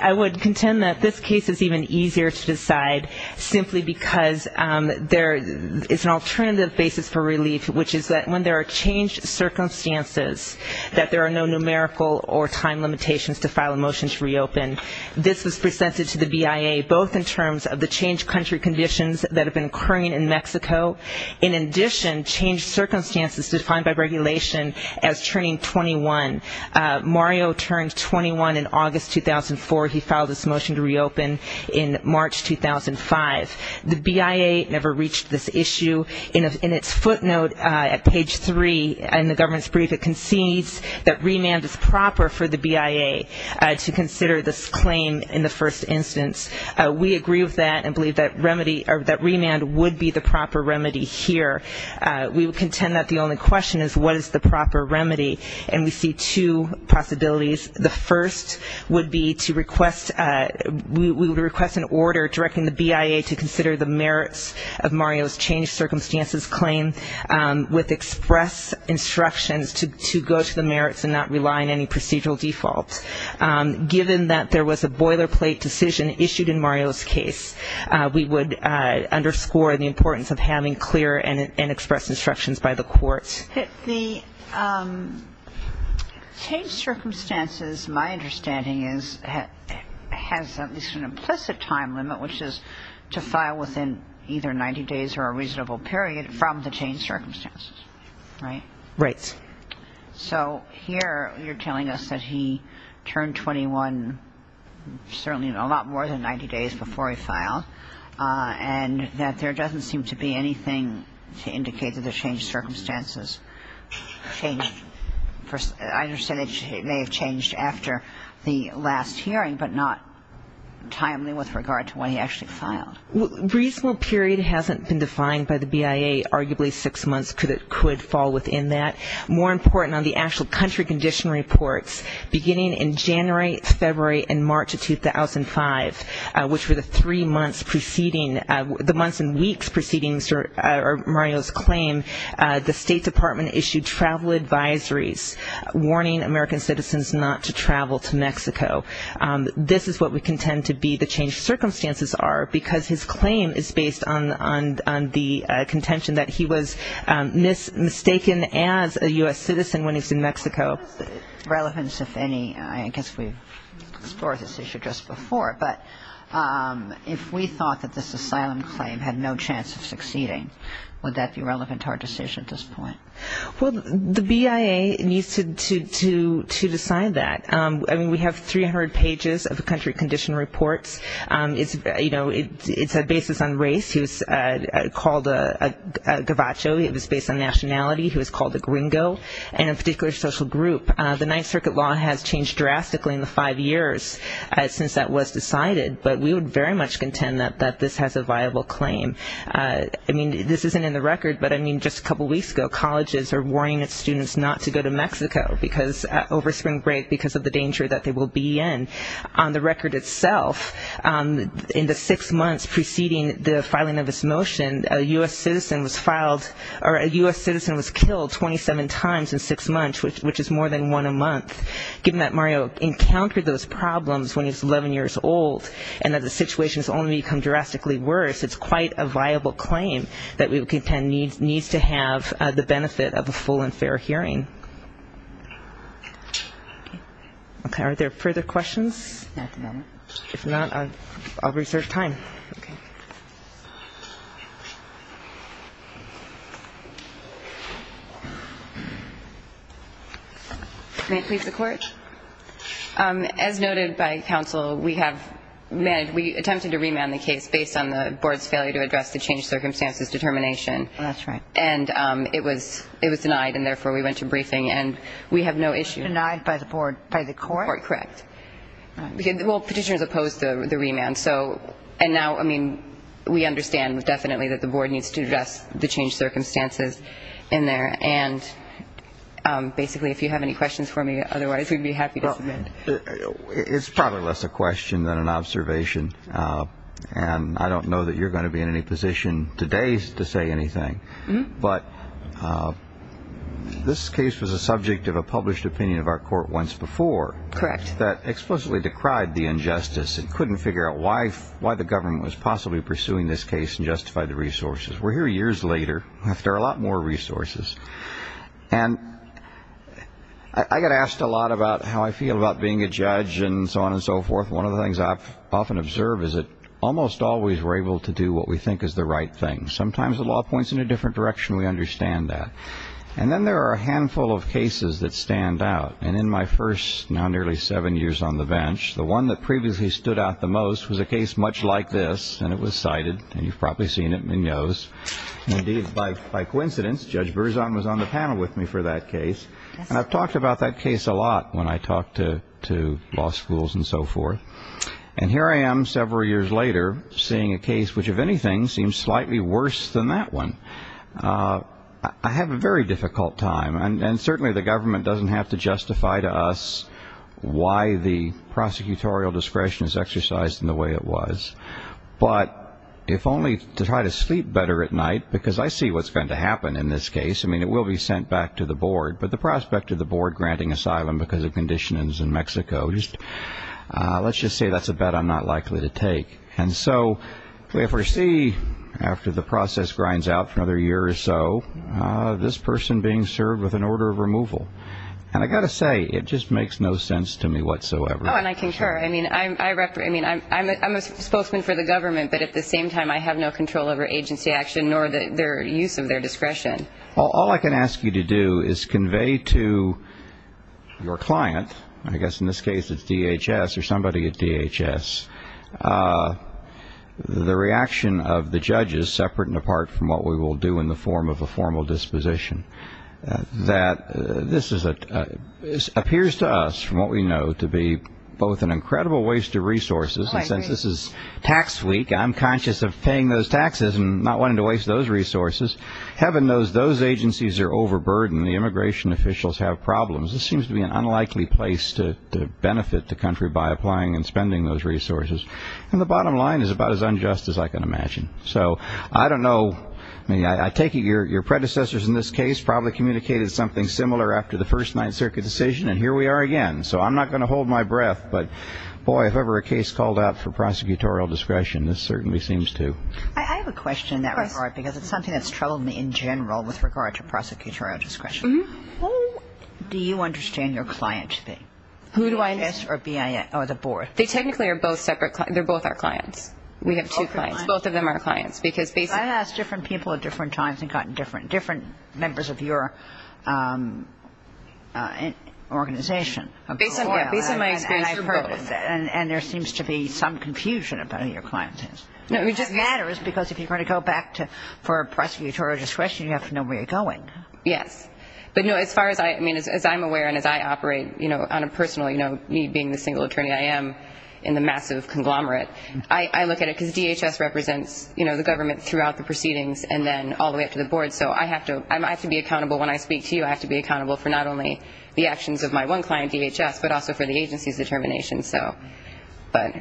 I would contend that this case is even easier to decide simply because there is an alternative basis for relief, which is that when there are changed circumstances, that there are no numerical or time limitations to file a motion to reopen. This was presented to the BIA both in terms of the changed country conditions that have been occurring in Mexico, in addition circumstances defined by regulation as turning 21. Mario turned 21 in August 2004. He filed this motion to reopen in March 2005. The BIA never reached this issue. In its footnote at page 3 in the government's brief, it concedes that remand is proper for the BIA to consider this claim in the first instance. We agree with that and believe that remand would be the proper remedy here. We would contend that the only question is what is the proper remedy and we see two possibilities. The first would be to request, we would request an order directing the BIA to consider the merits of Mario's changed circumstances claim with express instructions to go to the merits and not rely on any procedural default. Given that there was a boilerplate decision issued in Mario's case, we would underscore the importance of having clear and express instructions by the courts. The changed circumstances, my understanding is, has at least an implicit time limit, which is to file within either 90 days or a reasonable period from the changed circumstances. Right? Right. So here you're telling us that he turned 21 certainly a lot more than 90 days before he filed and that there doesn't seem to be anything to indicate that the changed circumstances changed. I understand that it may have changed after the last hearing, but not timely with regard to when he actually filed. Reasonable period hasn't been defined by the BIA. Arguably six months could fall within that. More important on the actual country condition reports, beginning in January, February and March of 2005, which were the three months preceding, the months and weeks preceding Mario's claim, the State Department issued travel advisories warning American citizens not to travel to Mexico. This is what we contend to be the changed circumstances are because his claim is based on the contention that he was mistaken as a U.S. citizen when he was in Mexico. What is the relevance, if any, I guess we've explored this issue just before, but if we thought that this asylum claim had no chance of succeeding, would that be relevant to our decision at this point? Well, the BIA needs to decide that. I mean, we have 300 pages of country condition reports. It's, you know, it's a basis on race. He was called a Gavacho. He was based on nationality. He was called a gringo and a particular social group. The Ninth Circuit law has changed drastically in the five years since that was decided, but we would very much contend that this has a viable claim. I mean, this isn't in the record, but I mean, just a couple weeks ago colleges are warning its students not to go to Mexico because over spring break because of the danger that they will be in. On the record itself, in the six months preceding the filing of his motion, a U.S. citizen was filed or a U.S. citizen was killed 27 times in six months, which is more than one a month. Given that Mario encountered those problems when he was 11 years old and that the situation has only become drastically worse, it's quite a viable claim that we would contend needs to have the benefit of a full and fair hearing. Are there further questions? If not, I'll reserve time. May it please the Court? As noted by counsel, we have attempted to remand the case based on the board's failure to address the changed circumstances determination. Oh, that's right. And it was denied and therefore we went to briefing and we have no issue. It was denied by the board, by the court? Correct. Well, petitioners opposed the remand. So, and now, I mean, we understand definitely that the board needs to address the changed circumstances in there. And basically, if you have any questions for me, otherwise we'd be happy to submit. It's probably less a question than an observation. And I don't know that you're going to be in any position today to say anything. But this case was a subject of a published opinion of our court once before that explicitly decried the injustice and couldn't figure out why the government was possibly pursuing this case and justified the resources. We're here years later after a lot more resources. And I get asked a lot about how I feel about being a judge and so on and so forth. One of the things I often observe is that almost always we're able to do what we think is the right thing. Sometimes the law points in a different direction. We understand that. And then there are a handful of cases that stand out. And in my first now nearly seven years on the bench, the one that previously stood out the most was a case much like this. And it was cited. And you've probably seen it in the news. And indeed, by coincidence, Judge Berzon was on the panel with me for that case. And I've talked about that case a lot when I talk to law schools and so forth. And here I am several years later seeing a case which, if anything, seems slightly worse than that one. I have a very difficult time. And certainly the government doesn't have to justify to us why the prosecutorial discretion is exercised in the way it was. But if only to try to sleep better at night, because I see what's going to happen in this case. I mean, it will be sent back to the board. But the prospect of the board granting asylum because of conditionings in Mexico, let's just say that's a bet I'm not likely to take. And so we foresee, after the process grinds out for another year or so, this person being served with an order of removal. And I've got to say, it just makes no sense to me whatsoever. Oh, and I concur. I mean, I'm a spokesman for the government. But at the same time, I have no control over agency action nor their use of their discretion. All I can ask you to do is convey to your client, I guess in this case it's DHS or somebody at DHS, the reaction of the judges, separate and apart from what we will do in the form of a formal disposition, that this appears to us, from what we know, to be both an incredible waste of resources. And since this is tax week, I'm conscious of paying those taxes and not wanting to waste those resources. Heaven knows those agencies are overburdened and the immigration officials have problems. This seems to be an unlikely place to benefit the country by applying and spending those resources. And the bottom line is about as unjust as I can imagine. So I don't know. I mean, I take it your predecessors in this case probably communicated something similar after the first Ninth Circuit decision, and here we are again. So I'm not going to hold my breath. But boy, if ever a case called out for prosecutorial discretion, this certainly seems to. I have a question in that regard, because it's something that's troubled me in general with regard to prosecutorial discretion. How do you understand your client to be? Who do I understand? BIS or BIA or the board? They technically are both separate. They're both our clients. We have two clients. Both of them are clients. I've asked different people at different times and gotten different members of your organization. Based on my experience, they're both. And there seems to be some confusion about who your client is. No, it just matters, because if you're going to go back for prosecutorial discretion, you have to know where you're going. Yes. But as far as I'm aware and as I operate on a personal note, me being the single attorney I am in the massive conglomerate, I look at it, because DHS represents the government throughout the proceedings and then all the way up to the board. So I have to be accountable when I speak to you. I have to be accountable for not only the actions of my one client, DHS, but also for the agency's determination. But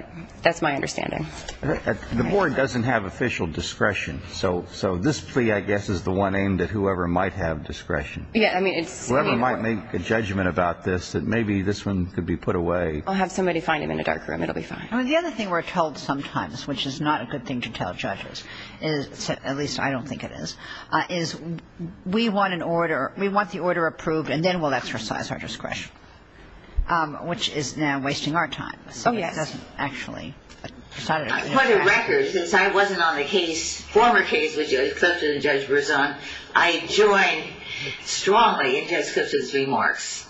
that's my understanding. The board doesn't have official discretion. So this plea, I guess, is the one aimed at whoever might have discretion, whoever might make a judgment about this, that maybe this one could be put away. I'll have somebody find him in a dark room. It'll be fine. The other thing we're told sometimes, which is not a good thing to tell judges, at least I don't think it is, is we want an order. We want the order approved and then we'll exercise our discretion, which is now wasting our time. Oh, yes. It doesn't actually. I put a record, since I wasn't on the case, former case with Judge Clifton and Judge Berzon, I joined strongly in Judge Clifton's remarks.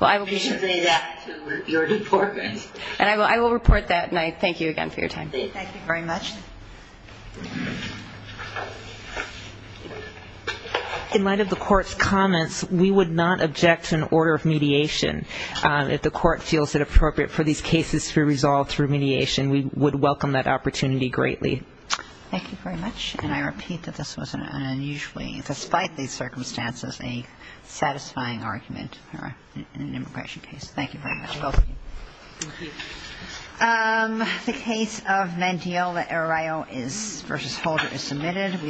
Well, I will. You should say that to your department. And I will report that and I thank you again for your time. Thank you very much. In light of the court's comments, we would not object to an order of mediation if the case is submitted. We would welcome that opportunity greatly. Thank you very much. And I repeat that this was an unusually, despite these circumstances, a satisfying argument in an immigration case. Thank you very much. Thank you. The case of Mendiel v. Holder is submitted.